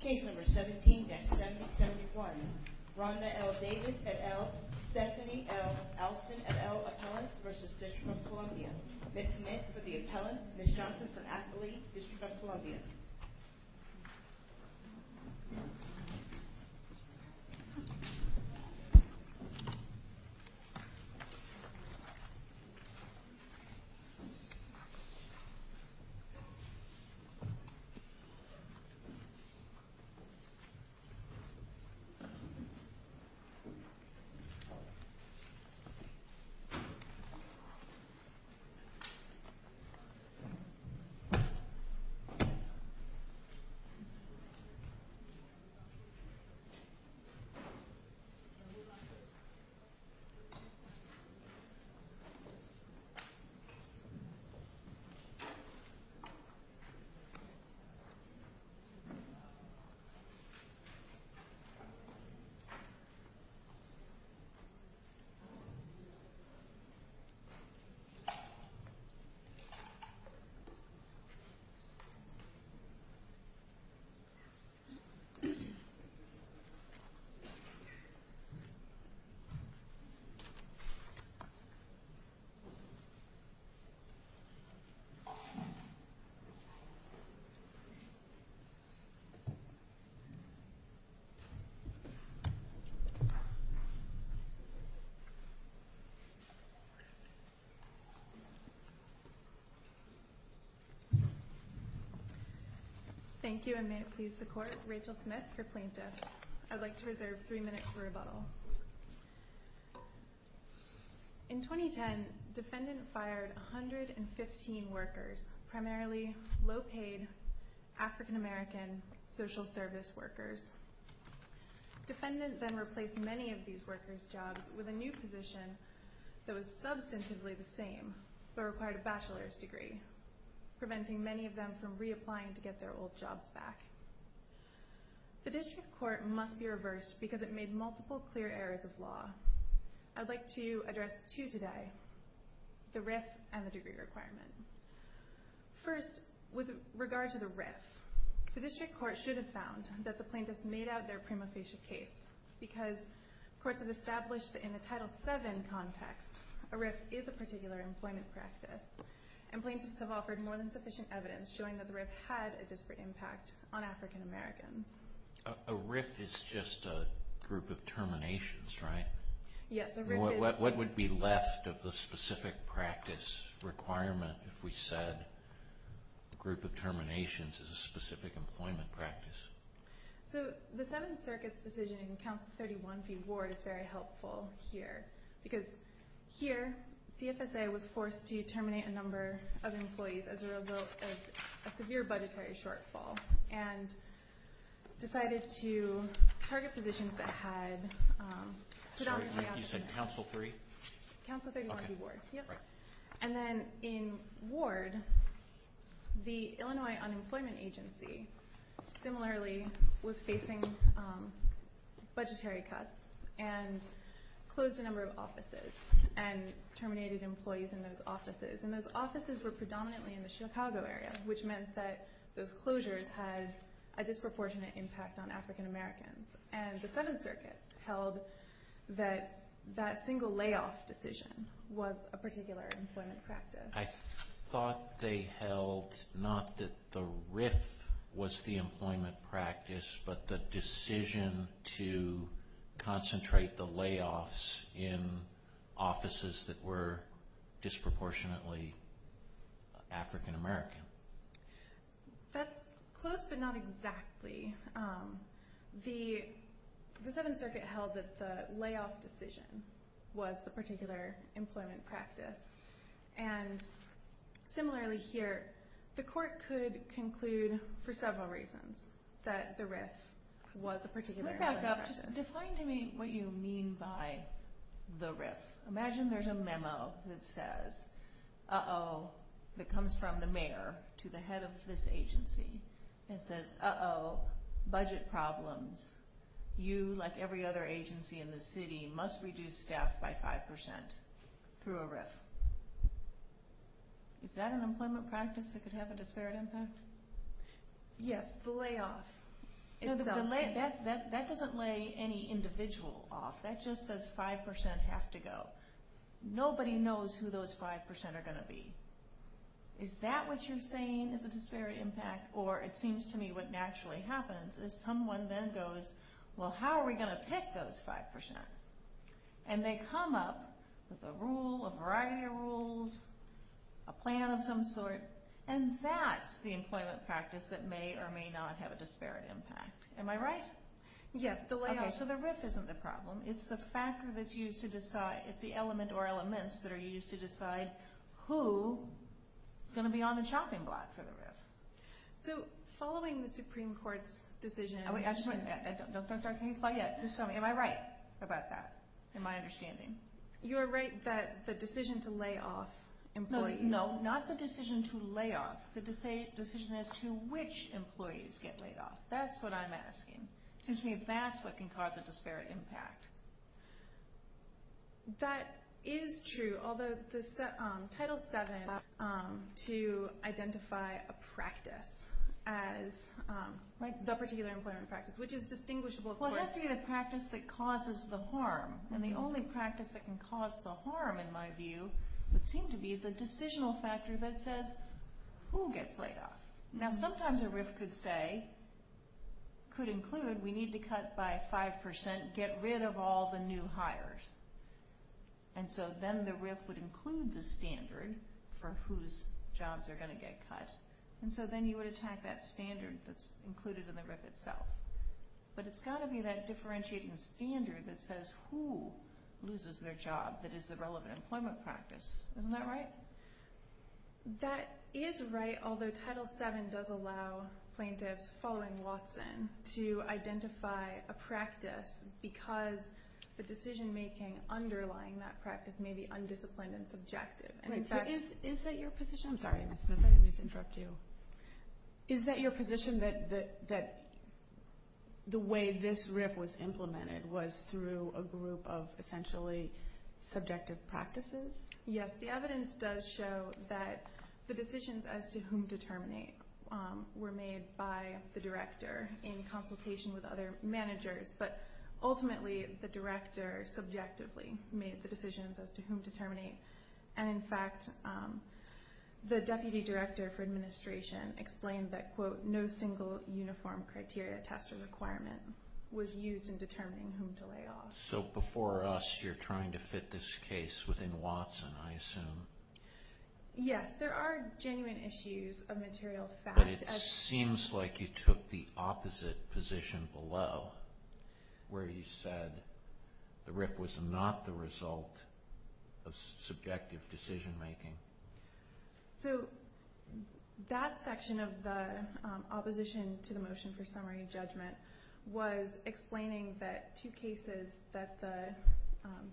Case number 17-7071, Rhonda L. Davis et al, Stephanie L. Alston et al, appellants, v. District of Columbia. Ms. Smith for the appellants, Ms. Johnson for appellate, District of Columbia. Thank you. Thank you. Thank you, and may it please the Court, Rachel Smith for plaintiffs. I'd like to reserve three minutes for rebuttal. In 2010, defendant fired 115 workers, primarily low-paid African American social service workers. Defendant then replaced many of these workers' jobs with a new position that was substantively the same, but required a bachelor's degree, preventing many of them from reapplying to get their old jobs back. The District Court must be reversed because it made multiple clear errors of law. I'd like to address two today, the RIF and the degree requirement. First, with regard to the RIF, the District Court should have found that the plaintiffs made out their prima facie case because courts have established that in the Title VII context, a RIF is a particular employment practice, and plaintiffs have offered more than sufficient evidence showing that the RIF had a disparate impact on African Americans. A RIF is just a group of terminations, right? Yes, a RIF is. What would be left of the specific practice requirement if we said a group of terminations is a specific employment practice? So the Seventh Circuit's decision in Council 31 v. Ward is very helpful here, because here CFSA was forced to terminate a number of employees as a result of a severe budgetary shortfall and decided to target positions that had predominantly African Americans. Sorry, you said Council 3? Council 31 v. Ward. And then in Ward, the Illinois Unemployment Agency similarly was facing budgetary cuts and closed a number of offices and terminated employees in those offices. And those offices were predominantly in the Chicago area, which meant that those closures had a disproportionate impact on African Americans. And the Seventh Circuit held that that single layoff decision was a particular employment practice. I thought they held not that the RIF was the employment practice, but the decision to concentrate the layoffs in offices that were disproportionately African American. That's close, but not exactly. The Seventh Circuit held that the layoff decision was the particular employment practice. And similarly here, the court could conclude for several reasons that the RIF was a particular employment practice. Can you back up? Just define to me what you mean by the RIF. Imagine there's a memo that says, uh-oh, that comes from the mayor to the head of this agency, and says, uh-oh, budget problems. You, like every other agency in the city, must reduce staff by 5% through a RIF. Is that an employment practice that could have a disparate impact? Yes, the layoff. That doesn't lay any individual off. That just says 5% have to go. Nobody knows who those 5% are going to be. Is that what you're saying is a disparate impact? Or it seems to me what naturally happens is someone then goes, well, how are we going to pick those 5%? And they come up with a rule, a variety of rules, a plan of some sort, and that's the employment practice that may or may not have a disparate impact. Am I right? Yes, the layoff. Okay, so the RIF isn't the problem. It's the factor that's used to decide. It's the element or elements that are used to decide who is going to be on the chopping block for the RIF. So following the Supreme Court's decision. Don't start a case law yet. Just tell me, am I right about that in my understanding? You are right that the decision to lay off employees. No, not the decision to lay off. The decision as to which employees get laid off. That's what I'm asking. It seems to me that's what can cause a disparate impact. That is true, although Title VII to identify a practice as, like the particular employment practice, which is distinguishable, of course. Well, it has to be the practice that causes the harm. And the only practice that can cause the harm, in my view, would seem to be the decisional factor that says who gets laid off. Now, sometimes a RIF could say, could include, we need to cut by 5%, get rid of all the new hires. And so then the RIF would include the standard for whose jobs are going to get cut. And so then you would attack that standard that's included in the RIF itself. But it's got to be that differentiating standard that says who loses their job that is the relevant employment practice. Isn't that right? That is right, although Title VII does allow plaintiffs following Watson to identify a practice because the decision-making underlying that practice may be undisciplined and subjective. Is that your position? I'm sorry, Ms. Smith, I didn't mean to interrupt you. Is that your position that the way this RIF was implemented was through a group of essentially subjective practices? Yes, the evidence does show that the decisions as to whom to terminate were made by the director in consultation with other managers. But ultimately, the director subjectively made the decisions as to whom to terminate. And, in fact, the deputy director for administration explained that, quote, no single uniform criteria, test, or requirement was used in determining whom to lay off. So before us, you're trying to fit this case within Watson, I assume. Yes, there are genuine issues of material fact. But it seems like you took the opposite position below, where you said the RIF was not the result of subjective decision-making. So that section of the opposition to the motion for summary and judgment was explaining that two cases that the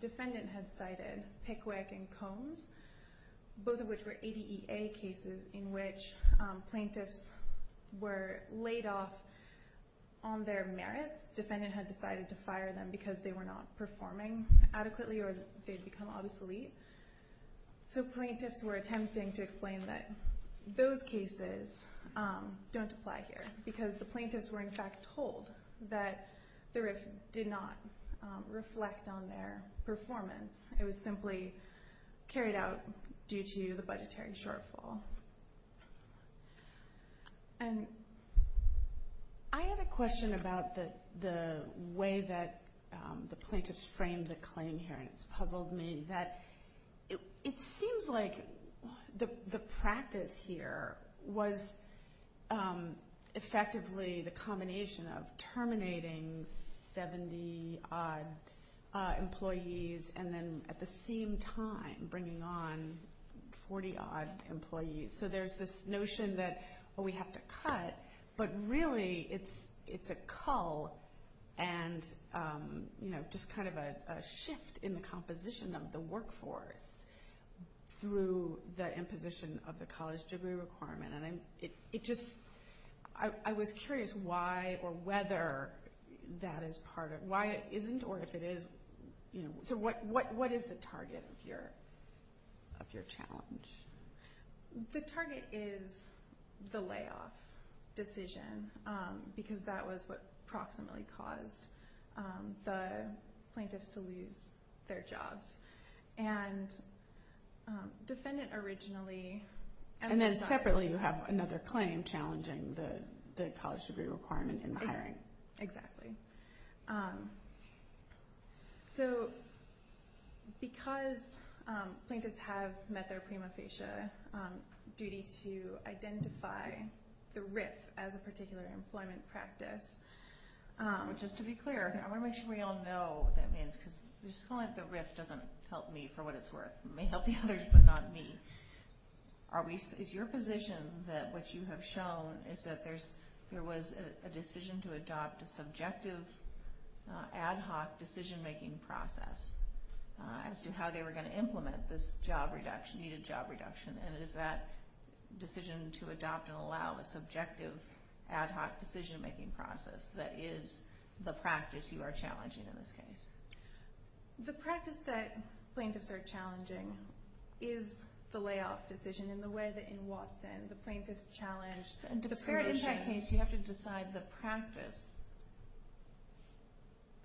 defendant had cited, Pickwick and Combs, both of which were ADEA cases in which plaintiffs were laid off on their merits. Defendant had decided to fire them because they were not performing adequately or they'd become obsolete. So plaintiffs were attempting to explain that those cases don't apply here because the plaintiffs were, in fact, told that the RIF did not reflect on their performance. It was simply carried out due to the budgetary shortfall. And I had a question about the way that the plaintiffs framed the claim here, and it's puzzled me, that it seems like the practice here was effectively the combination of terminating 70-odd employees and then at the same time bringing on 40-odd employees. So there's this notion that, well, we have to cut, but really it's a cull and just kind of a shift in the composition of the workforce through the imposition of the college degree requirement. I was curious why or whether that is part of it. Why it isn't or if it is. So what is the target of your challenge? The target is the layoff decision because that was what approximately caused the plaintiffs to lose their jobs. And defendant originally emphasized... And then separately you have another claim challenging the college degree requirement in hiring. Exactly. So because plaintiffs have met their prima facie duty to identify the RIF as a particular employment practice, just to be clear, I want to make sure we all know what that means because just calling it the RIF doesn't help me for what it's worth. It may help the others, but not me. Is your position that what you have shown is that there was a decision to adopt a subjective ad hoc decision-making process as to how they were going to implement this job reduction, needed job reduction, and is that decision to adopt and allow a subjective ad hoc decision-making process that is the practice you are challenging in this case? The practice that plaintiffs are challenging is the layoff decision and the way that in Watson the plaintiffs challenged... In a disparate impact case, you have to decide the practice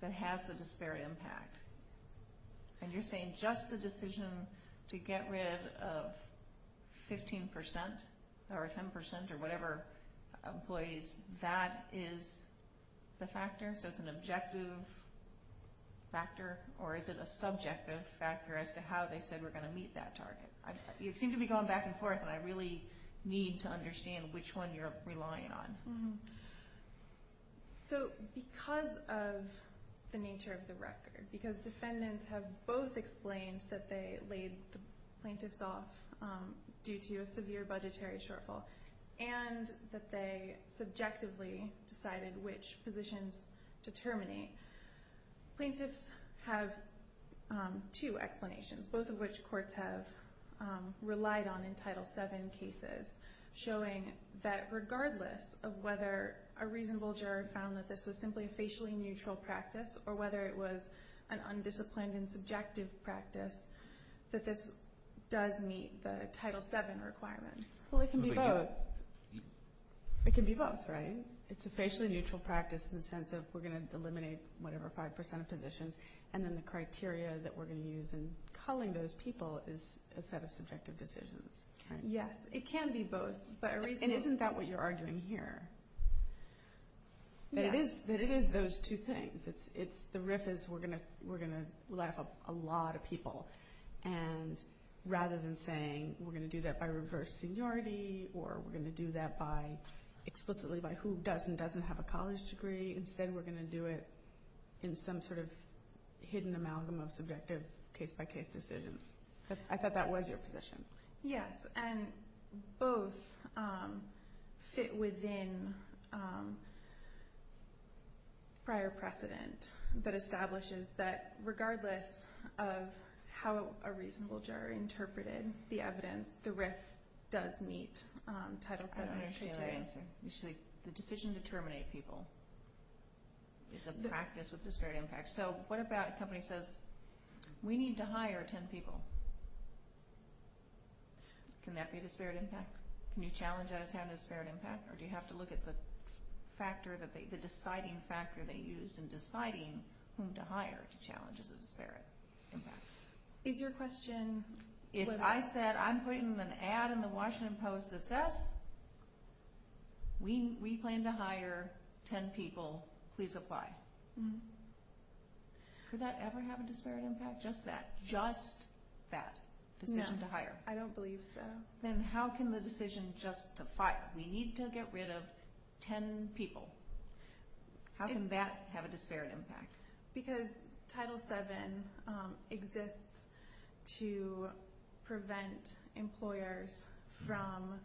that has the disparate impact. And you're saying just the decision to get rid of 15% or 10% or whatever employees, that is the factor? So it's an objective factor or is it a subjective factor as to how they said we're going to meet that target? You seem to be going back and forth and I really need to understand which one you're relying on. So because of the nature of the record, because defendants have both explained that they laid the plaintiffs off due to a severe budgetary shortfall and that they subjectively decided which positions to terminate, plaintiffs have two explanations, both of which courts have relied on in Title VII cases, showing that regardless of whether a reasonable juror found that this was simply a facially neutral practice or whether it was an undisciplined and subjective practice, that this does meet the Title VII requirements. Well, it can be both. It can be both, right? It's a facially neutral practice in the sense of we're going to eliminate whatever 5% of positions and then the criteria that we're going to use in culling those people is a set of subjective decisions. Yes, it can be both. And isn't that what you're arguing here? That it is those two things. The riff is we're going to laugh up a lot of people and rather than saying we're going to do that by reverse seniority or we're going to do that explicitly by who does and doesn't have a college degree, instead we're going to do it in some sort of hidden amalgam of subjective case-by-case decisions. I thought that was your position. Yes, and both fit within prior precedent that establishes that regardless of how a reasonable juror interpreted the evidence, the riff does meet Title VII criteria. The decision to terminate people is a practice with disparate impact. So what about a company says we need to hire 10 people? Can that be a disparate impact? Can you challenge that as having a disparate impact? Or do you have to look at the deciding factor they used in deciding whom to hire to challenge as a disparate impact? Is your question... If I said I'm putting an ad in the Washington Post that says we plan to hire 10 people, please apply, could that ever have a disparate impact? Just that, just that decision to hire. I don't believe so. Then how can the decision just to fire? We need to get rid of 10 people. How can that have a disparate impact? Because Title VII exists to prevent employers from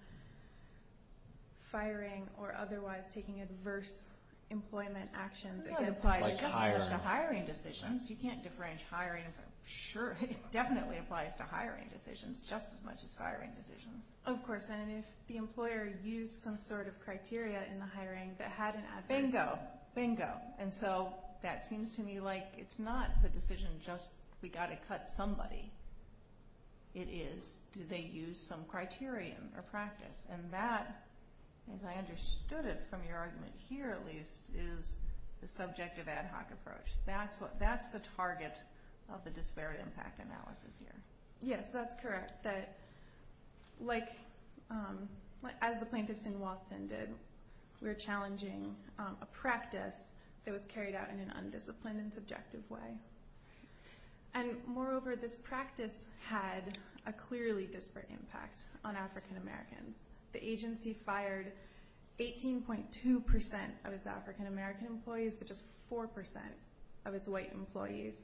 firing or otherwise taking adverse employment actions against them. It applies just as much to hiring decisions. You can't differentiate hiring. Sure, it definitely applies to hiring decisions just as much as firing decisions. Of course, and if the employer used some sort of criteria in the hiring that had an adverse... Bingo, bingo. And so that seems to me like it's not the decision just we got to cut somebody. It is do they use some criterion or practice. And that, as I understood it from your argument here at least, is the subjective ad hoc approach. That's the target of the disparate impact analysis here. Yes, that's correct. As the plaintiffs in Watson did, we're challenging a practice that was carried out in an undisciplined and subjective way. And moreover, this practice had a clearly disparate impact on African Americans. The agency fired 18.2% of its African American employees but just 4% of its white employees.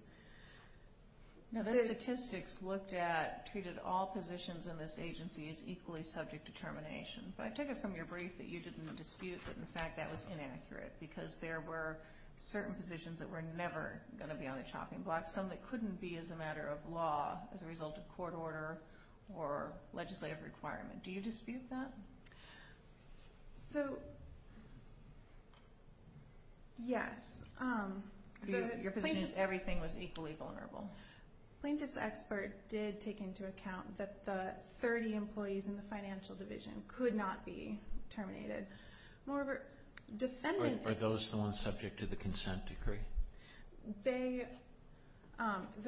Now, the statistics looked at, treated all positions in this agency as equally subject to termination. But I took it from your brief that you didn't dispute that, in fact, that was inaccurate because there were certain positions that were never going to be on the chopping block, some that couldn't be as a matter of law as a result of court order or legislative requirement. Do you dispute that? So, yes. Your position is everything was equally vulnerable. Plaintiff's expert did take into account that the 30 employees in the financial division could not be terminated. Are those the ones subject to the consent decree? The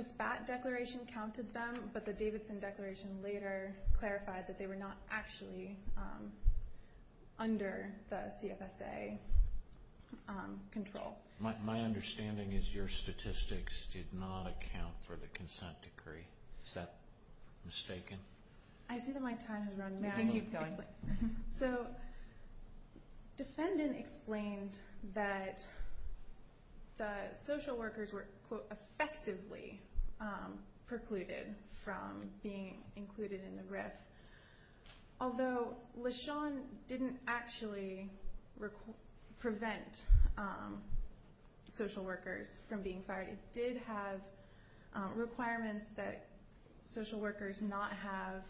SPAT declaration counted them, but the Davidson declaration later clarified that they were not actually under the CFSA control. My understanding is your statistics did not account for the consent decree. Is that mistaken? I see that my time has run out. You can keep going. So, defendant explained that the social workers were, quote, effectively precluded from being included in the RIF. Although LeSean didn't actually prevent social workers from being fired, it did have requirements that social workers not have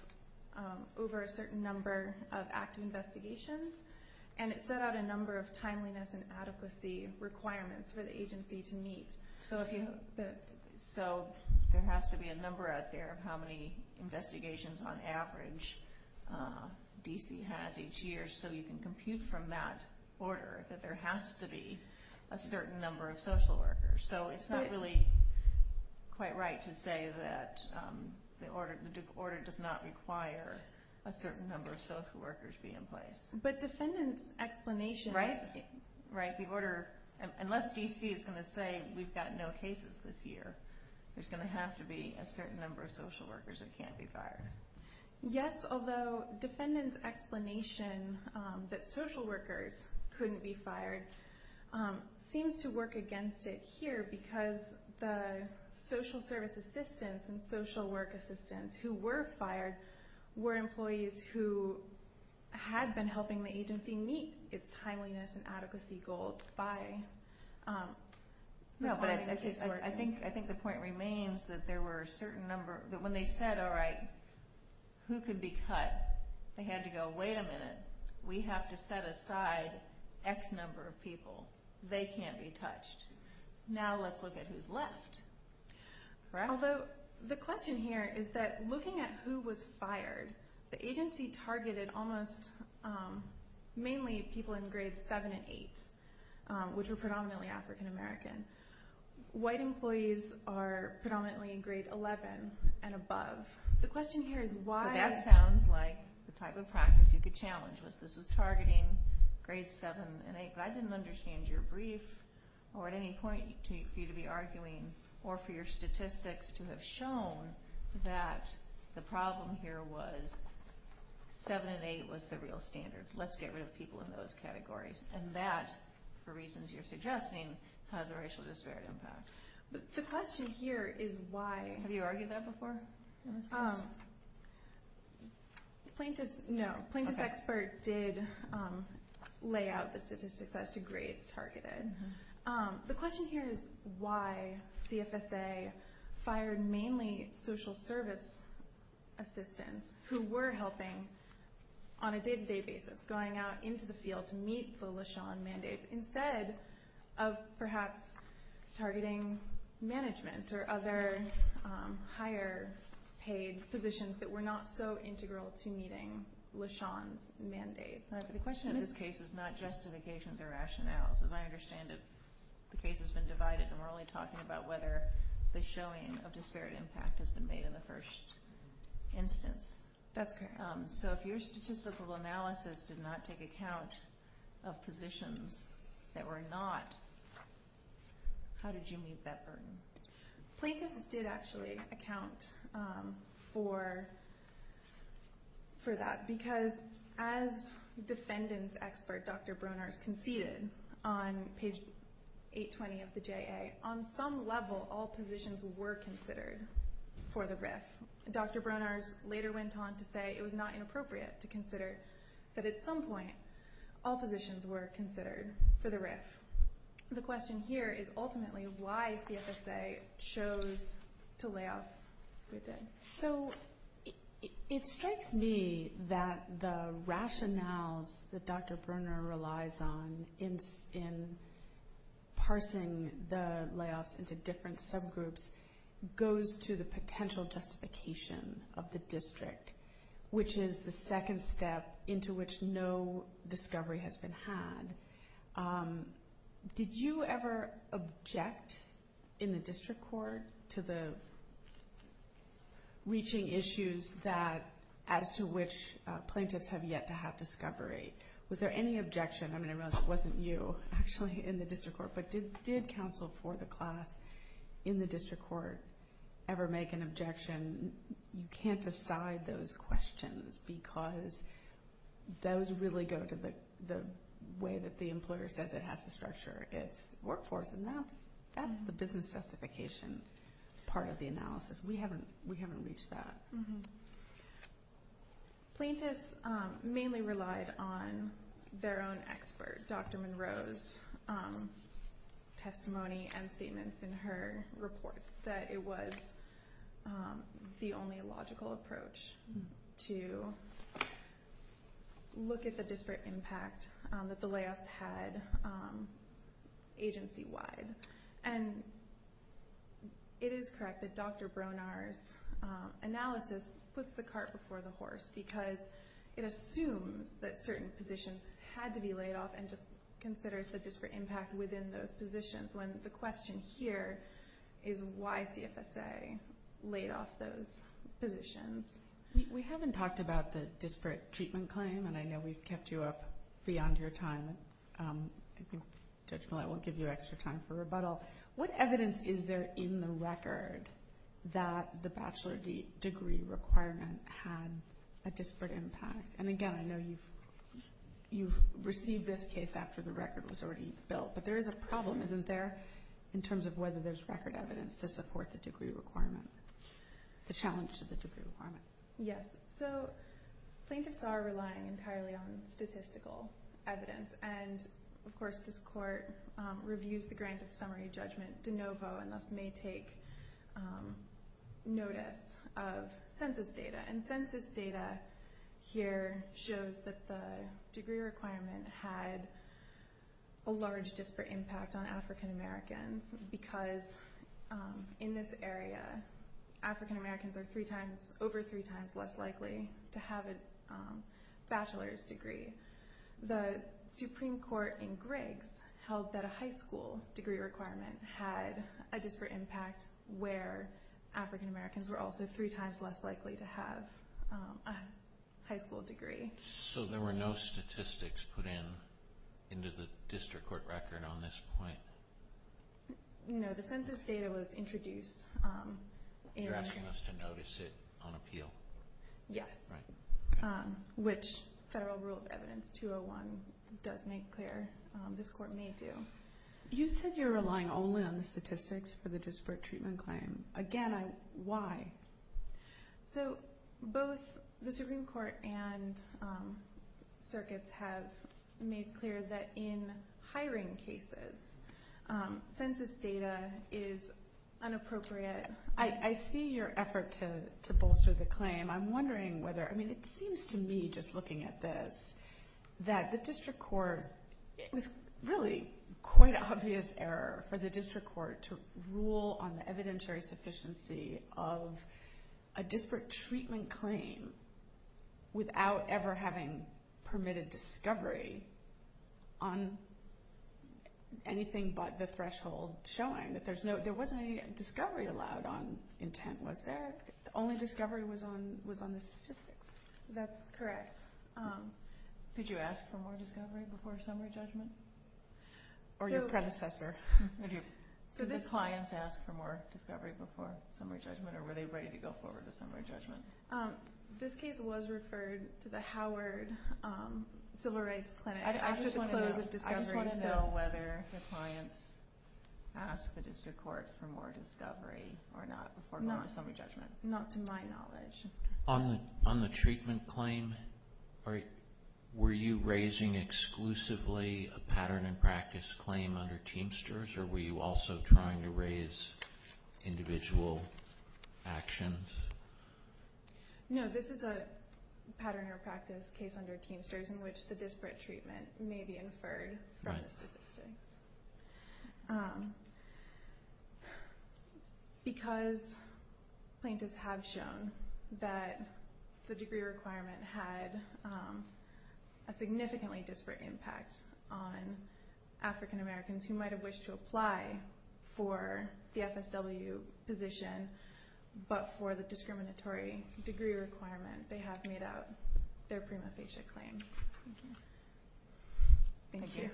over a certain number of active investigations, and it set out a number of timeliness and adequacy requirements for the agency to meet. So there has to be a number out there of how many investigations on average D.C. has each year so you can compute from that order that there has to be a certain number of social workers. So it's not really quite right to say that the order does not require a certain number of social workers be in place. But defendant's explanation is... Right, the order, unless D.C. is going to say we've got no cases this year, there's going to have to be a certain number of social workers that can't be fired. Yes, although defendant's explanation that social workers couldn't be fired seems to work against it here because the social service assistants and social work assistants who were fired were employees who had been helping the agency meet its timeliness and adequacy goals by... No, but I think the point remains that there were a certain number, that when they said, all right, who could be cut, they had to go, wait a minute, we have to set aside X number of people. They can't be touched. Now let's look at who's left. Although the question here is that looking at who was fired, the agency targeted almost mainly people in grades 7 and 8, which were predominantly African American. White employees are predominantly in grade 11 and above. The question here is why... So that sounds like the type of practice you could challenge was this was targeting grades 7 and 8, but I didn't understand your brief or at any point for you to be arguing or for your statistics to have shown that the problem here was 7 and 8 was the real standard. Let's get rid of people in those categories. And that, for reasons you're suggesting, has a racial disparity impact. The question here is why... Have you argued that before in this case? Plaintiff's expert did lay out the statistics as to grades targeted. The question here is why CFSA fired mainly social service assistants who were helping on a day-to-day basis, going out into the field to meet the LeSean mandates, instead of perhaps targeting management or other higher paid positions that were not so integral to meeting LeSean's mandates. The question of this case is not justifications or rationales. As I understand it, the case has been divided, and we're only talking about whether the showing of disparate impact has been made in the first instance. That's correct. So if your statistical analysis did not take account of positions that were not, how did you meet that burden? Plaintiffs did actually account for that, because as defendant's expert, Dr. Bronars, conceded on page 820 of the JA, on some level all positions were considered for the RIF. Dr. Bronars later went on to say it was not inappropriate to consider that at some point all positions were considered for the RIF. The question here is ultimately why CFSA chose to lay off. So it strikes me that the rationales that Dr. Bronars relies on in parsing the layoffs into different subgroups goes to the potential justification of the district, which is the second step into which no discovery has been had. Did you ever object in the district court to the reaching issues as to which plaintiffs have yet to have discovery? Was there any objection? I mean, I realize it wasn't you, actually, in the district court, but did counsel for the class in the district court ever make an objection? You can't decide those questions because those really go to the way that the employer says it has to structure its workforce, and that's the business justification part of the analysis. We haven't reached that. Plaintiffs mainly relied on their own expert, Dr. Monroe's testimony and statements in her reports, that it was the only logical approach to look at the disparate impact that the layoffs had agency-wide. And it is correct that Dr. Bronars' analysis puts the cart before the horse because it assumes that certain positions had to be laid off and just considers the disparate impact within those positions, when the question here is why CFSA laid off those positions. We haven't talked about the disparate treatment claim, and I know we've kept you up beyond your time. Judge Millett, I won't give you extra time for rebuttal. What evidence is there in the record that the bachelor degree requirement had a disparate impact? And again, I know you've received this case after the record was already built, but there is a problem, isn't there, in terms of whether there's record evidence to support the degree requirement, the challenge to the degree requirement? Yes, so plaintiffs are relying entirely on statistical evidence, and of course this court reviews the grant of summary judgment de novo and thus may take notice of census data. And census data here shows that the degree requirement had a large disparate impact on African Americans because in this area African Americans are over three times less likely to have a bachelor's degree. The Supreme Court in Griggs held that a high school degree requirement had a disparate impact where African Americans were also three times less likely to have a high school degree. So there were no statistics put into the district court record on this point? No, the census data was introduced. You're asking us to notice it on appeal? Yes, which Federal Rule of Evidence 201 does make clear. This court may do. You said you're relying only on the statistics for the disparate treatment claim. Again, why? So both the Supreme Court and circuits have made clear that in hiring cases, census data is inappropriate. I see your effort to bolster the claim. I'm wondering whether, I mean it seems to me just looking at this, that the district court, it was really quite an obvious error for the district court to rule on the evidentiary sufficiency of a disparate treatment claim without ever having permitted discovery on anything but the threshold showing. There wasn't any discovery allowed on intent, was there? The only discovery was on the statistics. That's correct. Did you ask for more discovery before summary judgment? Or your predecessor? Did the clients ask for more discovery before summary judgment or were they ready to go forward to summary judgment? This case was referred to the Howard Civil Rights Clinic. I just want to know whether the clients asked the district court for more discovery or not before going to summary judgment. Not to my knowledge. On the treatment claim, were you raising exclusively a pattern and practice claim under Teamsters or were you also trying to raise individual actions? No, this is a pattern or practice case under Teamsters in which the disparate treatment may be inferred from the statistics. Because plaintiffs have shown that the degree requirement had a significantly disparate impact on African Americans who might have wished to apply for the FSW position but for the discriminatory degree requirement, they have made out their prima facie claim. Thank you.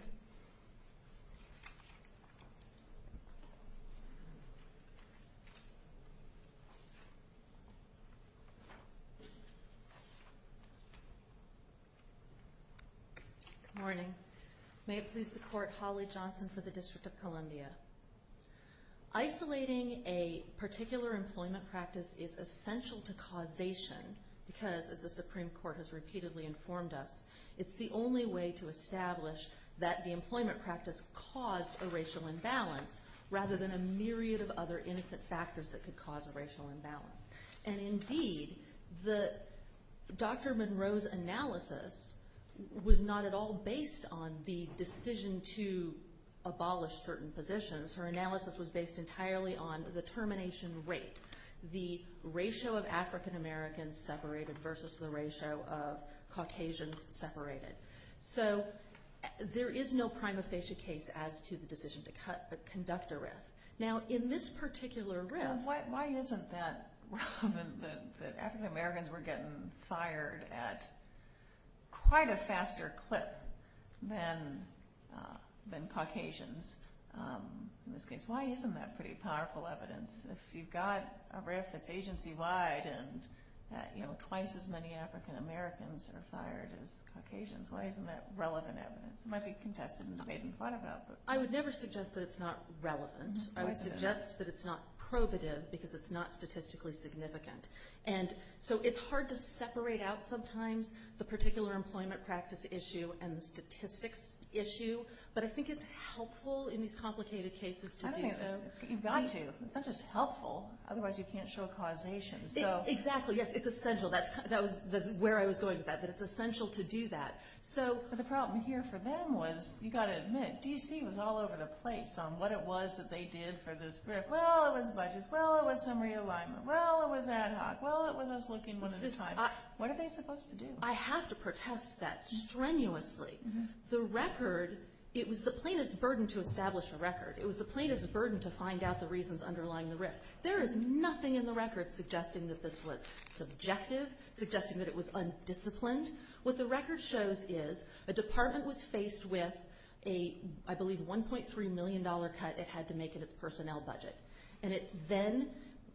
Good morning. May it please the Court, Holly Johnson for the District of Columbia. Isolating a particular employment practice is essential to causation because as the Supreme Court has repeatedly informed us, it's the only way to establish that the employment practice caused a racial imbalance rather than a myriad of other innocent factors that could cause a racial imbalance. Indeed, Dr. Monroe's analysis was not at all based on the decision to abolish certain positions. Her analysis was based entirely on the termination rate, the ratio of African Americans separated versus the ratio of Caucasians separated. So there is no prima facie case as to the decision to conduct a writ. Now in this particular writ... Why isn't that relevant that African Americans were getting fired at quite a faster clip than Caucasians? In this case, why isn't that pretty powerful evidence? If you've got a writ that's agency-wide and twice as many African Americans are fired as Caucasians, why isn't that relevant evidence? It might be contested and debated and fought about. I would never suggest that it's not relevant. I would suggest that it's not probative because it's not statistically significant. And so it's hard to separate out sometimes the particular employment practice issue and the statistics issue, but I think it's helpful in these complicated cases to do so. You've got to. It's not just helpful. Otherwise, you can't show causation. Exactly. Yes, it's essential. That's where I was going with that, that it's essential to do that. But the problem here for them was, you've got to admit, D.C. was all over the place on what it was that they did for this writ. Well, it was budgets. Well, it was summary alignment. Well, it was ad hoc. Well, it was us looking one at a time. What are they supposed to do? I have to protest that strenuously. The record, it was the plaintiff's burden to establish a record. It was the plaintiff's burden to find out the reasons underlying the writ. There is nothing in the record suggesting that this was subjective, suggesting that it was undisciplined. What the record shows is a department was faced with a, I believe, $1.3 million cut it had to make in its personnel budget. And it then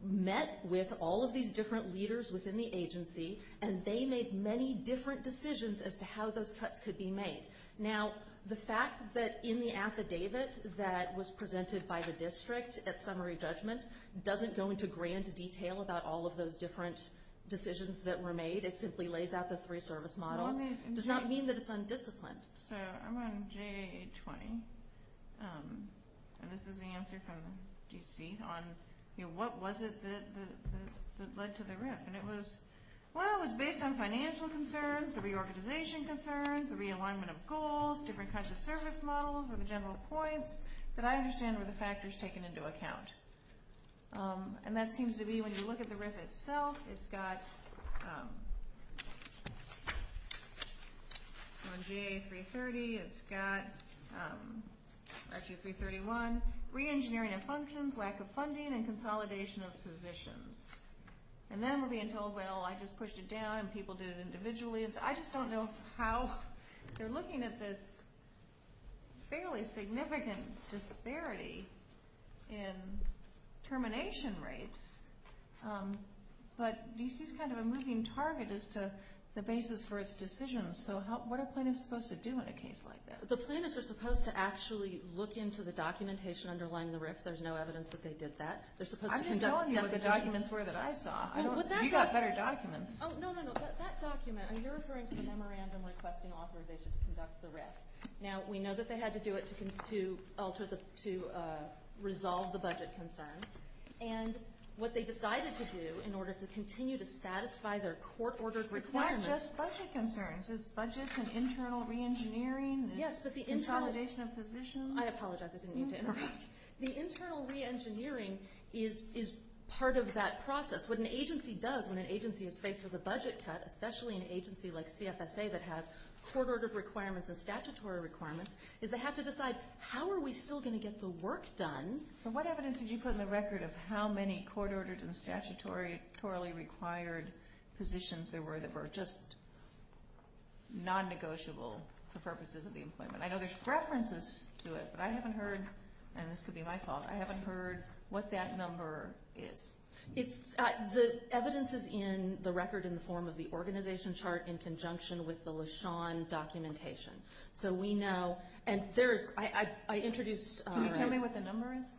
met with all of these different leaders within the agency, and they made many different decisions as to how those cuts could be made. Now, the fact that in the affidavit that was presented by the district at summary judgment doesn't go into grand detail about all of those different decisions that were made. It simply lays out the three service models. It does not mean that it's undisciplined. So I'm on JA 820, and this is the answer from D.C. on, you know, what was it that led to the writ? And it was, well, it was based on financial concerns, the reorganization concerns, the realignment of goals, different kinds of service models or the general points that I understand were the factors taken into account. And that seems to be when you look at the RIF itself, it's got on JA 330, it's got actually 331, reengineering and functions, lack of funding, and consolidation of positions. And then we're being told, well, I just pushed it down, and people did it individually. I just don't know how they're looking at this fairly significant disparity in termination rates. But D.C. is kind of a moving target as to the basis for its decisions. So what are plaintiffs supposed to do in a case like that? The plaintiffs are supposed to actually look into the documentation underlying the RIF. There's no evidence that they did that. I'm just telling you what the documents were that I saw. You've got better documents. No, no, no. That document, you're referring to the memorandum requesting authorization to conduct the RIF. Now, we know that they had to do it to resolve the budget concerns. And what they decided to do in order to continue to satisfy their court-ordered requirements. It's not just budget concerns. It's budgets and internal reengineering and consolidation of positions. I apologize. I didn't mean to interrupt. The internal reengineering is part of that process. What an agency does when an agency is faced with a budget cut, especially an agency like CFSA that has court-ordered requirements and statutory requirements, is they have to decide, how are we still going to get the work done? So what evidence did you put in the record of how many court-ordered and statutorily required positions there were that were just non-negotiable for purposes of the employment? I know there's references to it, but I haven't heard, and this could be my fault, I haven't heard what that number is. The evidence is in the record in the form of the organization chart in conjunction with the LeSean documentation. So we know, and there is, I introduced. Can you tell me what the number is?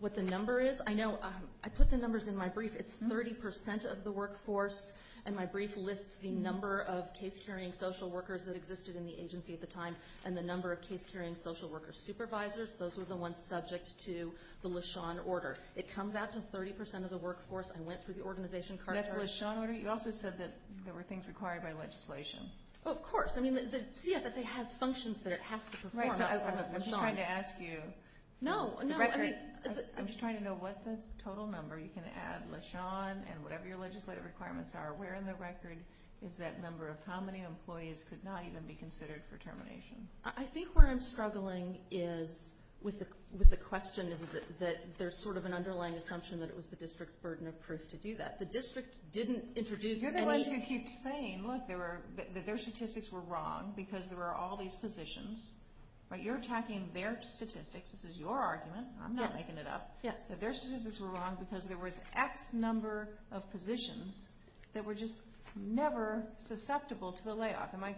What the number is? I know, I put the numbers in my brief. It's 30% of the workforce, and my brief lists the number of case-carrying social workers that existed in the agency at the time and the number of case-carrying social worker supervisors. Those were the ones subject to the LeSean order. It comes out to 30% of the workforce. I went through the organization chart. That's the LeSean order? You also said that there were things required by legislation. Of course. I mean, the CFSA has functions that it has to perform. I'm just trying to ask you. No, no. I'm just trying to know what the total number. You can add LeSean and whatever your legislative requirements are. Where in the record is that number of how many employees could not even be considered for termination? I think where I'm struggling with the question is that there's sort of an underlying assumption that it was the district's burden of proof to do that. The district didn't introduce any. You're the ones who keep saying, look, that their statistics were wrong because there were all these positions. But you're attacking their statistics. This is your argument. I'm not making it up. Yes. That their statistics were wrong because there was X number of positions that were just never susceptible to the layoff. Am I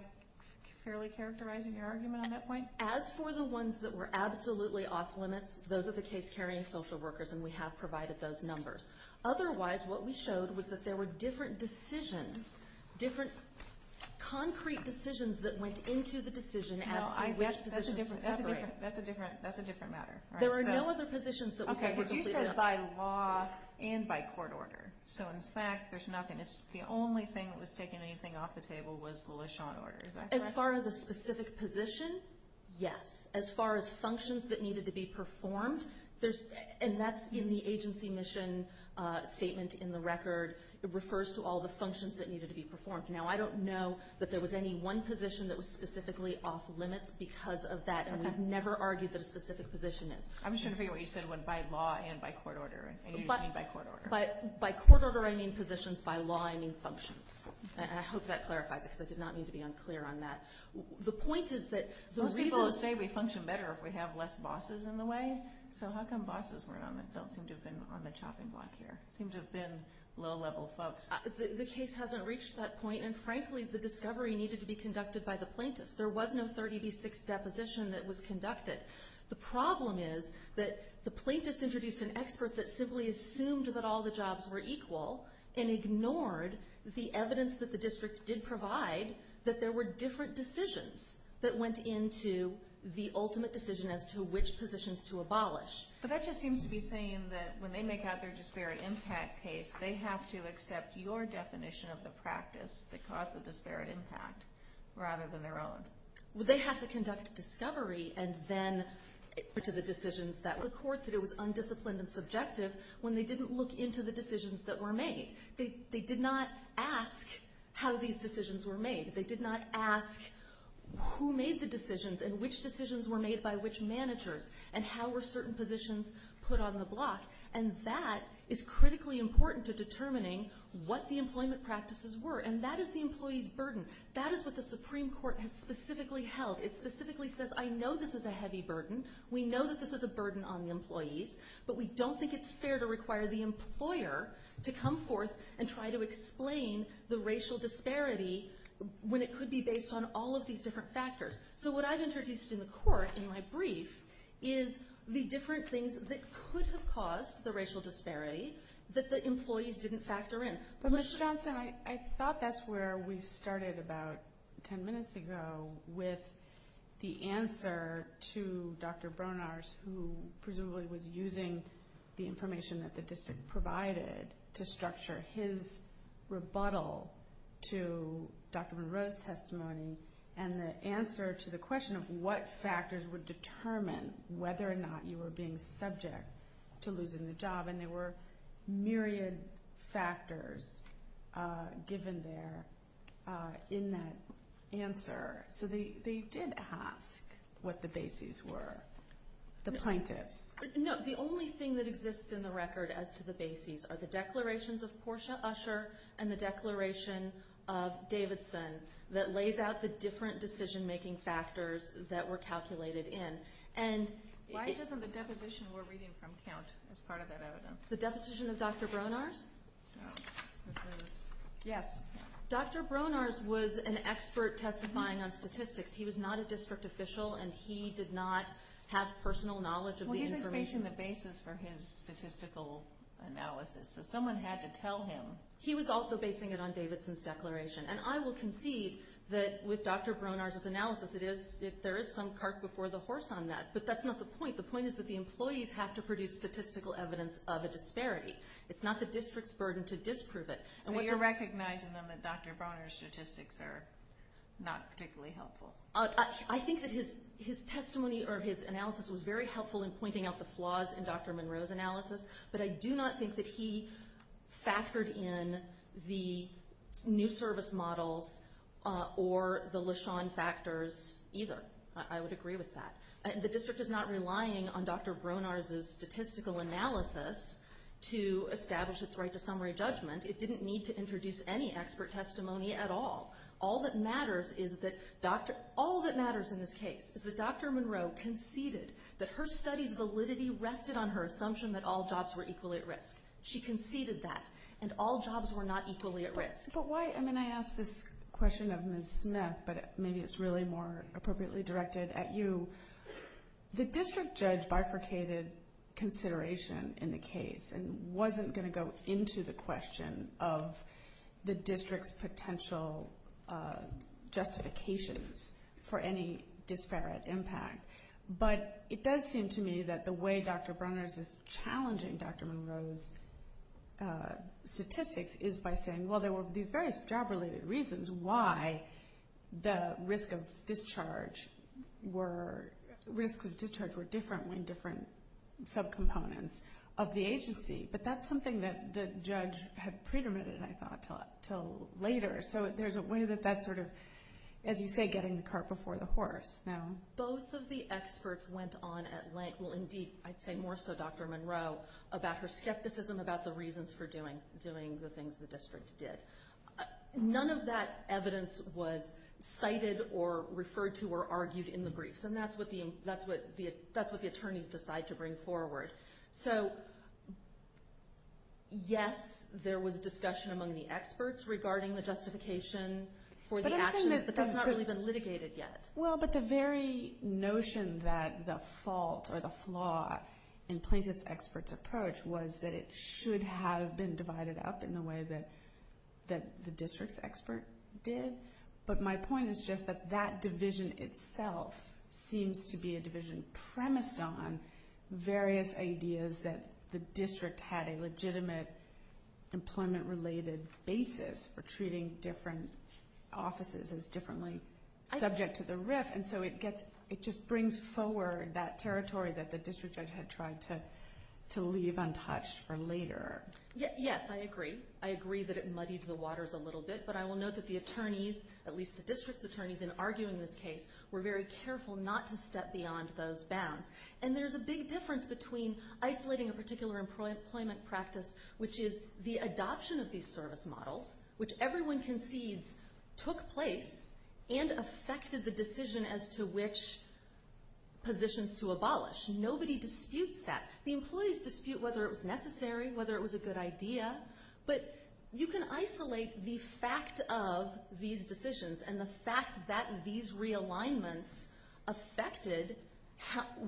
fairly characterizing your argument on that point? As for the ones that were absolutely off limits, those are the case-carrying social workers, and we have provided those numbers. Otherwise, what we showed was that there were different decisions, different concrete decisions that went into the decision as to which positions to separate. That's a different matter. There are no other positions that we said were completely off limits. Okay, because you said by law and by court order. So, in fact, there's nothing. The only thing that was taking anything off the table was the LeSean order. Is that correct? As far as a specific position, yes. As far as functions that needed to be performed, and that's in the agency mission statement in the record. It refers to all the functions that needed to be performed. Now, I don't know that there was any one position that was specifically off limits because of that, and we've never argued that a specific position is. I'm just trying to figure out what you said when by law and by court order, and you just mean by court order. By court order, I mean positions. By law, I mean functions. And I hope that clarifies it because I did not mean to be unclear on that. Most people say we function better if we have less bosses in the way, so how come bosses don't seem to have been on the chopping block here? They seem to have been low-level folks. The case hasn't reached that point, and, frankly, the discovery needed to be conducted by the plaintiffs. There was no 30B6 deposition that was conducted. The problem is that the plaintiffs introduced an expert that simply assumed that all the jobs were equal and ignored the evidence that the district did provide that there were different decisions that went into the ultimate decision as to which positions to abolish. But that just seems to be saying that when they make out their disparate impact case, they have to accept your definition of the practice that caused the disparate impact rather than their own. Well, they have to conduct discovery and then put to the decisions that the court did. And that's why it was undisciplined and subjective when they didn't look into the decisions that were made. They did not ask how these decisions were made. They did not ask who made the decisions and which decisions were made by which managers and how were certain positions put on the block. And that is critically important to determining what the employment practices were, and that is the employee's burden. That is what the Supreme Court has specifically held. It specifically says, I know this is a heavy burden. We know that this is a burden on the employees, but we don't think it's fair to require the employer to come forth and try to explain the racial disparity when it could be based on all of these different factors. So what I've introduced in the court in my brief is the different things that could have caused the racial disparity that the employees didn't factor in. But Ms. Johnson, I thought that's where we started about 10 minutes ago with the answer to Dr. Bronars, who presumably was using the information that the district provided to structure his rebuttal to Dr. Monroe's testimony and the answer to the question of what factors would determine whether or not you were being subject to losing the job. And there were myriad factors given there in that answer. So they did ask what the bases were, the plaintiffs. No, the only thing that exists in the record as to the bases are the declarations of Portia Usher and the declaration of Davidson that lays out the different decision-making factors that were calculated in. Why doesn't the deposition we're reading from count as part of that evidence? The deposition of Dr. Bronars? Yes. Dr. Bronars was an expert testifying on statistics. He was not a district official, and he did not have personal knowledge of the information. Well, he's basing the bases for his statistical analysis, so someone had to tell him. He was also basing it on Davidson's declaration. And I will concede that with Dr. Bronars' analysis, there is some cart before the horse on that. But that's not the point. The point is that the employees have to produce statistical evidence of a disparity. It's not the district's burden to disprove it. So you're recognizing, then, that Dr. Bronars' statistics are not particularly helpful? I think that his testimony or his analysis was very helpful in pointing out the flaws in Dr. Monroe's analysis, but I do not think that he factored in the new service models or the LeSean factors either. I would agree with that. The district is not relying on Dr. Bronars' statistical analysis to establish its right to summary judgment. It didn't need to introduce any expert testimony at all. All that matters in this case is that Dr. Monroe conceded that her study's validity rested on her assumption that all jobs were equally at risk. She conceded that, and all jobs were not equally at risk. But why? I mean, I asked this question of Ms. Smith, but maybe it's really more appropriately directed at you. The district judge bifurcated consideration in the case and wasn't going to go into the question of the district's potential justifications for any disparate impact. But it does seem to me that the way Dr. Bronars is challenging Dr. Monroe's statistics is by saying, well, there were these various job-related reasons why the risks of discharge were different when different subcomponents of the agency. But that's something that the judge had predetermined, I thought, until later. So there's a way that that's sort of, as you say, getting the cart before the horse. Both of the experts went on at length, well, indeed, I'd say more so Dr. Monroe, about her skepticism about the reasons for doing the things the district did. None of that evidence was cited or referred to or argued in the briefs, and that's what the attorneys decide to bring forward. So, yes, there was discussion among the experts regarding the justification for the actions, but that's not really been litigated yet. Well, but the very notion that the fault or the flaw in plaintiff's expert's approach was that it should have been divided up in the way that the district's expert did. But my point is just that that division itself seems to be a division premised on various ideas that the district had a legitimate employment-related basis for treating different offices as differently subject to the RIF, and so it just brings forward that territory that the district judge had tried to leave untouched for later. Yes, I agree. I agree that it muddied the waters a little bit, but I will note that the attorneys, at least the district's attorneys, in arguing this case, were very careful not to step beyond those bounds. And there's a big difference between isolating a particular employment practice, which is the adoption of these service models, which everyone concedes took place, and affected the decision as to which positions to abolish. Nobody disputes that. The employees dispute whether it was necessary, whether it was a good idea, but you can isolate the fact of these decisions and the fact that these realignments affected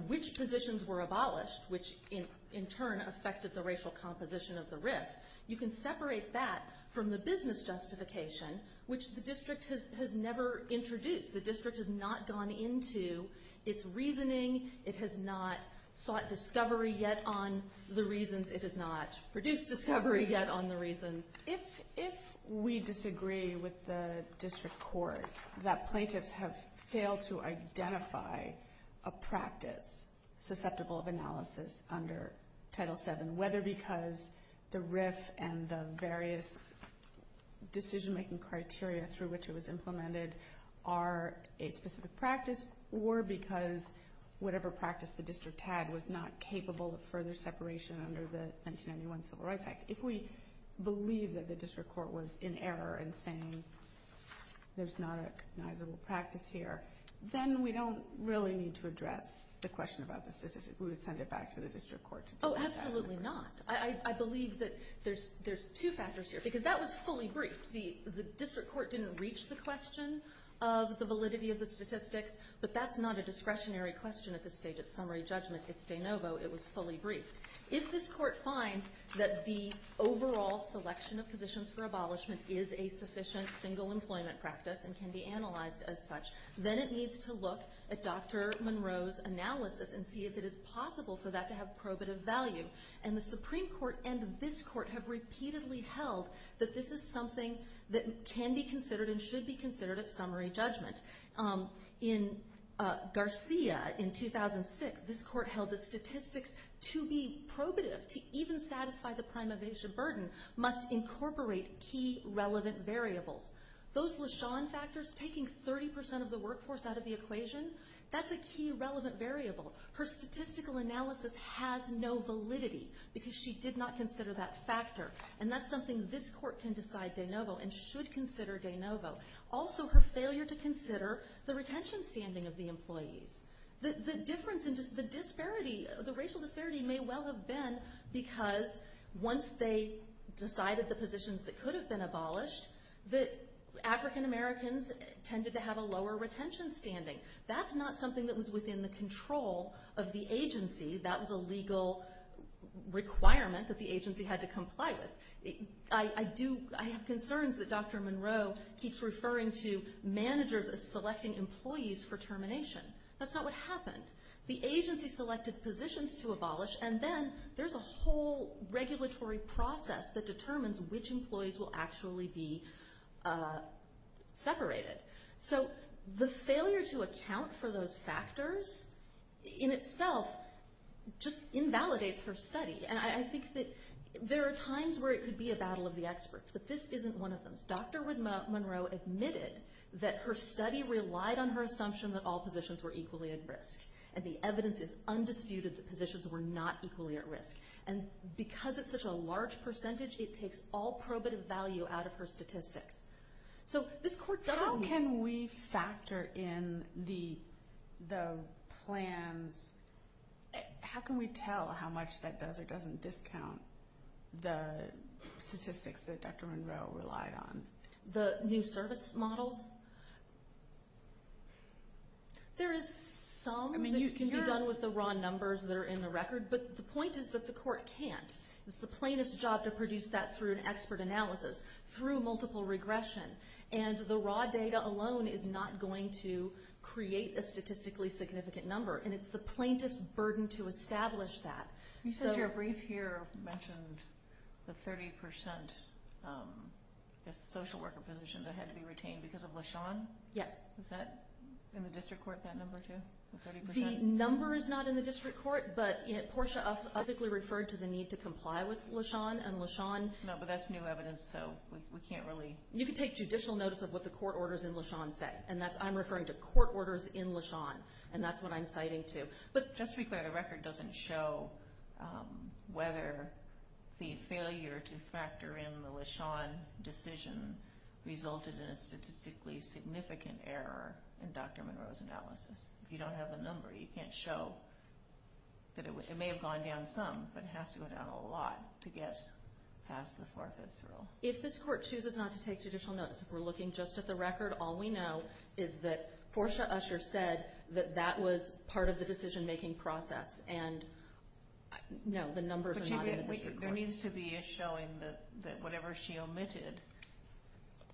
which positions were abolished, which in turn affected the racial composition of the RIF. You can separate that from the business justification, which the district has never introduced. The district has not gone into its reasoning. It has not sought discovery yet on the reasons. If we disagree with the district court that plaintiffs have failed to identify a practice susceptible of analysis under Title VII, whether because the RIF and the various decision-making criteria through which it was implemented are a specific practice, or because whatever practice the district had was not capable of further separation under the 1991 Civil Rights Act, if we believe that the district court was in error in saying there's not a recognizable practice here, then we don't really need to address the question about the statistics. We would send it back to the district court to do that. Oh, absolutely not. I believe that there's two factors here, because that was fully briefed. The district court didn't reach the question of the validity of the statistics, but that's not a discretionary question at this stage of summary judgment. It's de novo. It was fully briefed. If this court finds that the overall selection of positions for abolishment is a sufficient single employment practice and can be analyzed as such, then it needs to look at Dr. Monroe's analysis and see if it is possible for that to have probative value. And the Supreme Court and this court have repeatedly held that this is something that can be considered and should be considered at summary judgment. In Garcia in 2006, this court held the statistics to be probative, to even satisfy the prime evasion burden, must incorporate key relevant variables. Those LeSean factors, taking 30% of the workforce out of the equation, that's a key relevant variable. Her statistical analysis has no validity, because she did not consider that factor. And that's something this court can decide de novo and should consider de novo. Also, her failure to consider the retention standing of the employees. The difference in just the disparity, the racial disparity may well have been because once they decided the positions that could have been abolished, that African Americans tended to have a lower retention standing. That's not something that was within the control of the agency. That was a legal requirement that the agency had to comply with. I have concerns that Dr. Monroe keeps referring to managers as selecting employees for termination. That's not what happened. The agency selected positions to abolish, and then there's a whole regulatory process that determines which employees will actually be separated. So the failure to account for those factors, in itself, just invalidates her study. And I think that there are times where it could be a battle of the experts, but this isn't one of them. Dr. Monroe admitted that her study relied on her assumption that all positions were equally at risk. And the evidence is undisputed that positions were not equally at risk. And because it's such a large percentage, it takes all probative value out of her statistics. How can we factor in the plans? How can we tell how much that does or doesn't discount the statistics that Dr. Monroe relied on? The new service models? There is some that can be done with the raw numbers that are in the record, but the point is that the court can't. It's the plaintiff's job to produce that through an expert analysis, through multiple regression. And the raw data alone is not going to create a statistically significant number, and it's the plaintiff's burden to establish that. You said your brief here mentioned the 30% social worker positions that had to be retained because of LaShawn. Yes. Is that in the district court, that number, too, the 30%? The number is not in the district court, but Portia ethically referred to the need to comply with LaShawn and LaShawn. No, but that's new evidence, so we can't really. You can take judicial notice of what the court orders in LaShawn say, and I'm referring to court orders in LaShawn, and that's what I'm citing, too. But just to be clear, the record doesn't show whether the failure to factor in the LaShawn decision If you don't have the number, you can't show that it may have gone down some, but it has to go down a lot to get past the four-fifths rule. If this court chooses not to take judicial notice, if we're looking just at the record, all we know is that Portia Usher said that that was part of the decision-making process, and no, the numbers are not in the district court. There needs to be a showing that whatever she omitted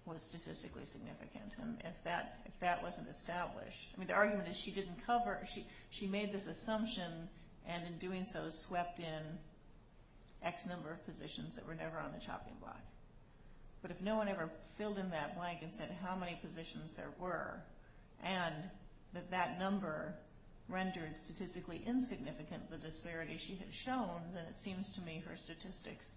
was statistically significant. If that wasn't established, I mean, the argument is she didn't cover, she made this assumption and in doing so swept in X number of positions that were never on the chopping block. But if no one ever filled in that blank and said how many positions there were and that that number rendered statistically insignificant the disparity she had shown, then it seems to me her statistics,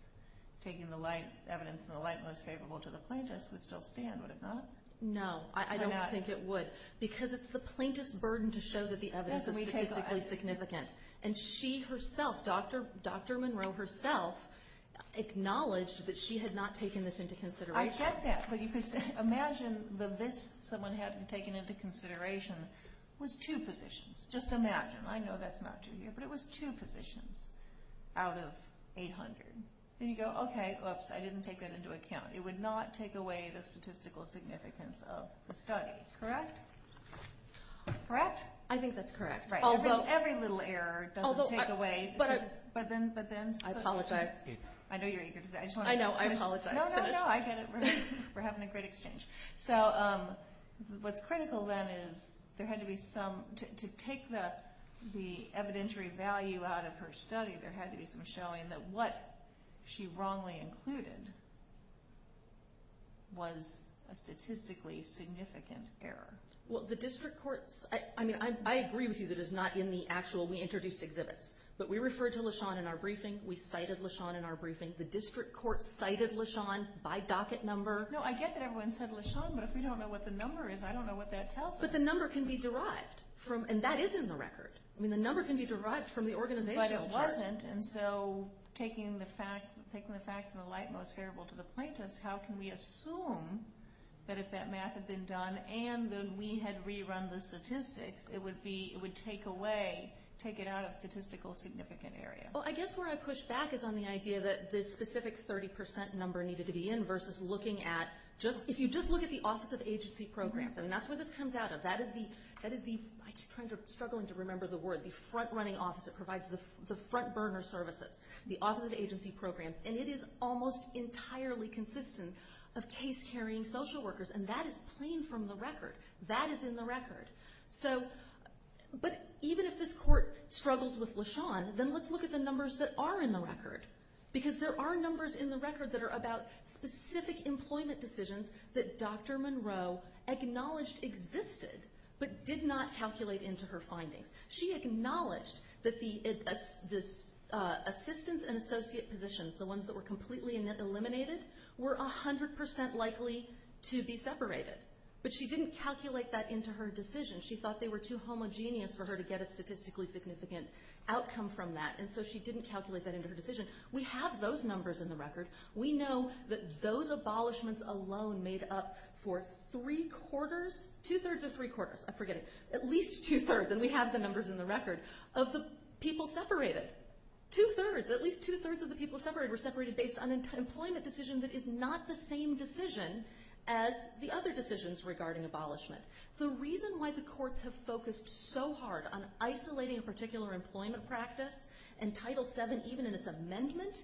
taking the light, evidence in the light most favorable to the plaintiffs would still stand, would it not? No, I don't think it would. Because it's the plaintiff's burden to show that the evidence is statistically significant. And she herself, Dr. Monroe herself, acknowledged that she had not taken this into consideration. I get that, but imagine that this someone hadn't taken into consideration was two positions. Just imagine. I know that's not true here, but it was two positions out of 800. Then you go, okay, oops, I didn't take that into account. It would not take away the statistical significance of the study, correct? Correct? I think that's correct. Right. Every little error doesn't take away. I apologize. I know you're eager to say that. I know, I apologize. No, no, no, I get it. We're having a great exchange. So what's critical then is there had to be some, to take the evidentiary value out of her study, there had to be some showing that what she wrongly included was a statistically significant error. Well, the district courts, I agree with you that it's not in the actual, we introduced exhibits. But we referred to LaShawn in our briefing. We cited LaShawn in our briefing. The district courts cited LaShawn by docket number. No, I get that everyone said LaShawn, but if we don't know what the number is, I don't know what that tells us. But the number can be derived, and that is in the record. I mean, the number can be derived from the organization chart. But it wasn't. And so taking the facts in the light most favorable to the plaintiffs, how can we assume that if that math had been done and that we had rerun the statistics, it would take it out of statistical significant area? Well, I guess where I push back is on the idea that this specific 30% number needed to be in versus looking at, if you just look at the Office of Agency Programs, I mean, that's where this comes out of. That is the front running office that provides the front burner services, the Office of Agency Programs, and it is almost entirely consistent of case-carrying social workers, and that is plain from the record. That is in the record. But even if this court struggles with LaShawn, then let's look at the numbers that are in the record, because there are numbers in the record that are about specific employment decisions that Dr. Monroe acknowledged existed but did not calculate into her findings. She acknowledged that the assistants and associate positions, the ones that were completely eliminated, were 100% likely to be separated. But she didn't calculate that into her decision. She thought they were too homogeneous for her to get a statistically significant outcome from that, and so she didn't calculate that into her decision. We have those numbers in the record. We know that those abolishments alone made up for three-quarters, two-thirds or three-quarters, I'm forgetting, at least two-thirds, and we have the numbers in the record, of the people separated. Two-thirds, at least two-thirds of the people separated were separated based on an employment decision that is not the same decision as the other decisions regarding abolishment. The reason why the courts have focused so hard on isolating a particular employment practice in Title VII, even in its amendment,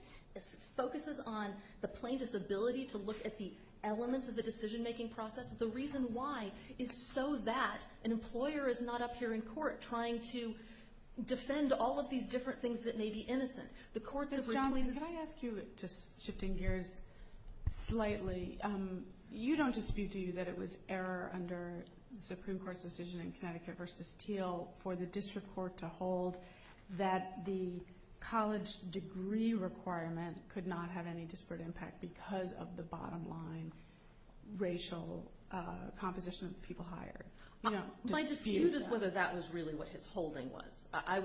focuses on the plaintiff's ability to look at the elements of the decision-making process. The reason why is so that an employer is not up here in court trying to defend all of these different things that may be innocent. Ms. Johnson, can I ask you, just shifting gears slightly, you don't dispute, do you, that it was error under the Supreme Court's decision in Connecticut v. Thiel for the district court to hold that the college degree requirement could not have any disparate impact because of the bottom-line racial composition of the people hired? My dispute is whether that was really what his holding was. I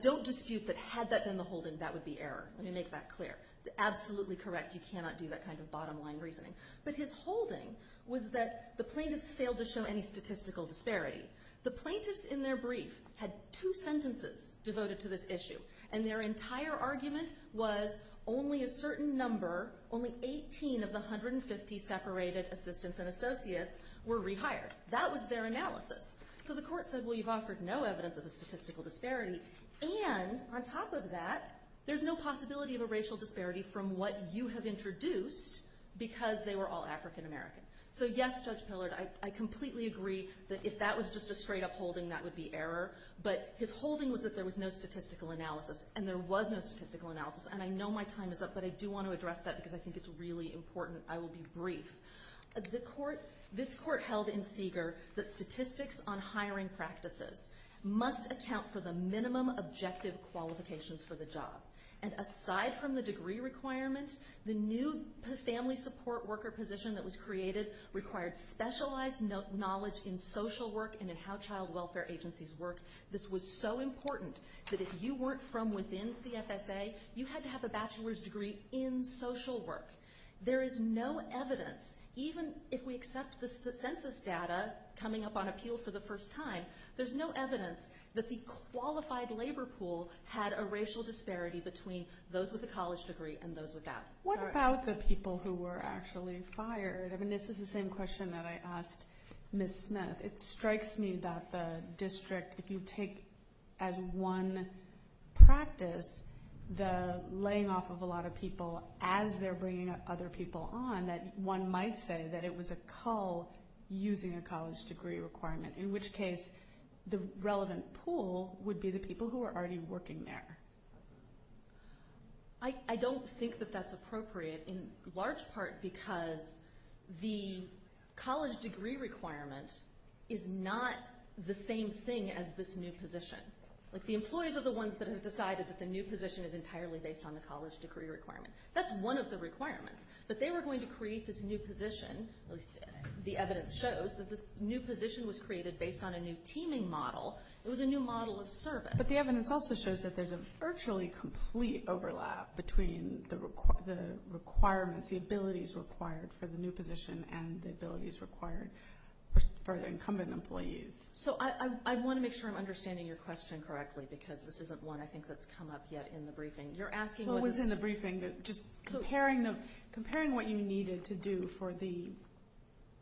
don't dispute that had that been the holding, that would be error. Let me make that clear. Absolutely correct. You cannot do that kind of bottom-line reasoning. But his holding was that the plaintiffs failed to show any statistical disparity. The plaintiffs in their brief had two sentences devoted to this issue, and their entire argument was only a certain number, only 18 of the 150 separated assistants and associates were rehired. That was their analysis. So the court said, well, you've offered no evidence of a statistical disparity, and on top of that, there's no possibility of a racial disparity from what you have introduced because they were all African American. So yes, Judge Pillard, I completely agree that if that was just a straight-up holding, that would be error. But his holding was that there was no statistical analysis, and there was no statistical analysis. And I know my time is up, but I do want to address that because I think it's really important. I will be brief. This court held in Seeger that statistics on hiring practices must account for the minimum objective qualifications for the job. And aside from the degree requirement, the new family support worker position that was created required specialized knowledge in social work and in how child welfare agencies work. This was so important that if you weren't from within CFSA, you had to have a bachelor's degree in social work. There is no evidence, even if we accept the census data coming up on appeal for the first time, there's no evidence that the qualified labor pool had a racial disparity between those with a college degree and those without. What about the people who were actually fired? I mean, this is the same question that I asked Ms. Smith. It strikes me that the district, if you take as one practice the laying off of a lot of people as they're bringing other people on, that one might say that it was a cull using a college degree requirement, in which case the relevant pool would be the people who are already working there. I don't think that that's appropriate in large part because the college degree requirement is not the same thing as this new position. The employees are the ones that have decided that the new position is entirely based on the college degree requirement. That's one of the requirements. But they were going to create this new position, at least the evidence shows that this new position was created based on a new teaming model. It was a new model of service. But the evidence also shows that there's a virtually complete overlap between the requirements, the abilities required for the new position and the abilities required for the incumbent employees. So I want to make sure I'm understanding your question correctly because this isn't one I think that's come up yet in the briefing. You're asking what was in the briefing, just comparing what you needed to do for the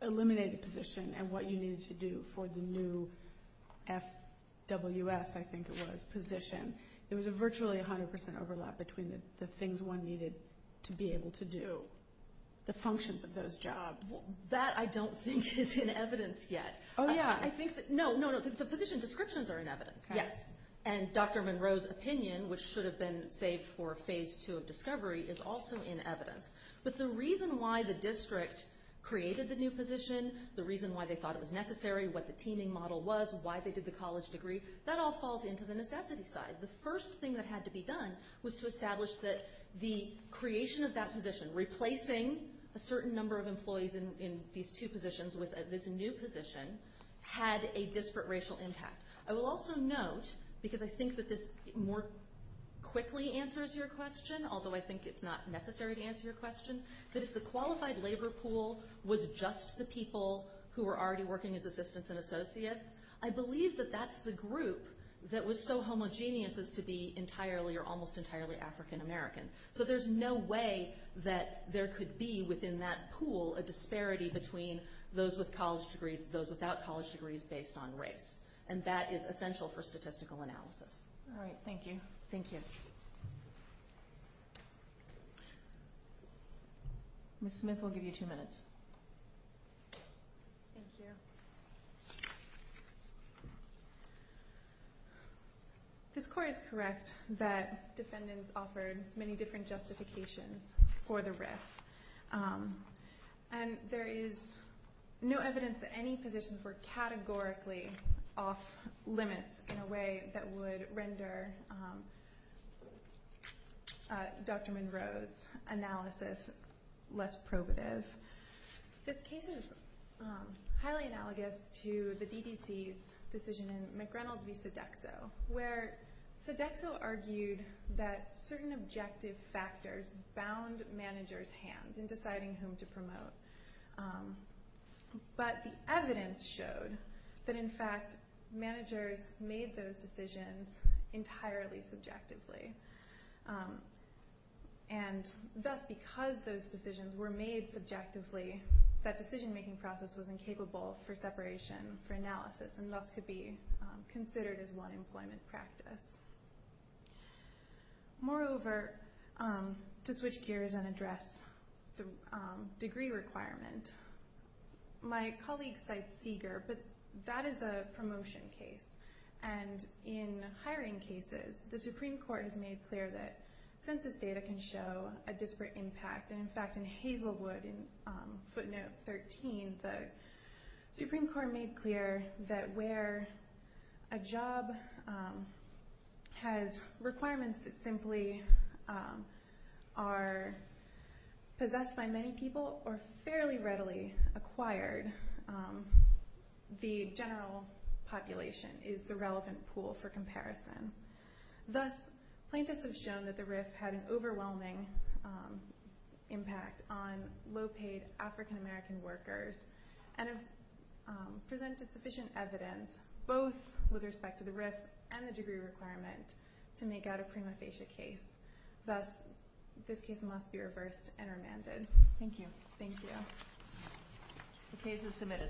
eliminated position and what you needed to do for the new FWS, I think it was, position. There was a virtually 100% overlap between the things one needed to be able to do, the functions of those jobs. That I don't think is in evidence yet. Oh, yeah. No, no, the position descriptions are in evidence, yes. And Dr. Monroe's opinion, which should have been saved for Phase 2 of discovery, is also in evidence. But the reason why the district created the new position, the reason why they thought it was necessary, what the teaming model was, why they did the college degree, that all falls into the necessity side. The first thing that had to be done was to establish that the creation of that position, replacing a certain number of employees in these two positions with this new position, had a disparate racial impact. I will also note, because I think that this more quickly answers your question, although I think it's not necessary to answer your question, that if the qualified labor pool was just the people who were already working as assistants and associates, I believe that that's the group that was so homogeneous as to be entirely or almost entirely African American. So there's no way that there could be within that pool a disparity between those with college degrees and those without college degrees based on race. And that is essential for statistical analysis. All right, thank you. Thank you. Ms. Smith will give you two minutes. Thank you. This court is correct that defendants offered many different justifications for the RIF. And there is no evidence that any positions were categorically off limits in a way that would render Dr. Monroe's analysis less probative. This case is highly analogous to the DDC's decision in McReynolds v. Sodexo, where Sodexo argued that certain objective factors bound managers' hands in deciding whom to promote. But the evidence showed that, in fact, managers made those decisions entirely subjectively. And thus, because those decisions were made subjectively, that decision-making process was incapable for separation for analysis, and thus could be considered as one employment practice. Moreover, to switch gears and address the degree requirement, my colleague cites Seeger, but that is a promotion case. And in hiring cases, the Supreme Court has made clear that census data can show a disparate impact. And, in fact, in Hazelwood, in footnote 13, the Supreme Court made clear that where a job has requirements that simply are possessed by many people or fairly readily acquired, the general population is the relevant pool for comparison. Thus, plaintiffs have shown that the RIF had an overwhelming impact on low-paid African-American workers and have presented sufficient evidence, both with respect to the RIF and the degree requirement, to make out a prima facie case. Thus, this case must be reversed and remanded. Thank you. Thank you. The case is submitted.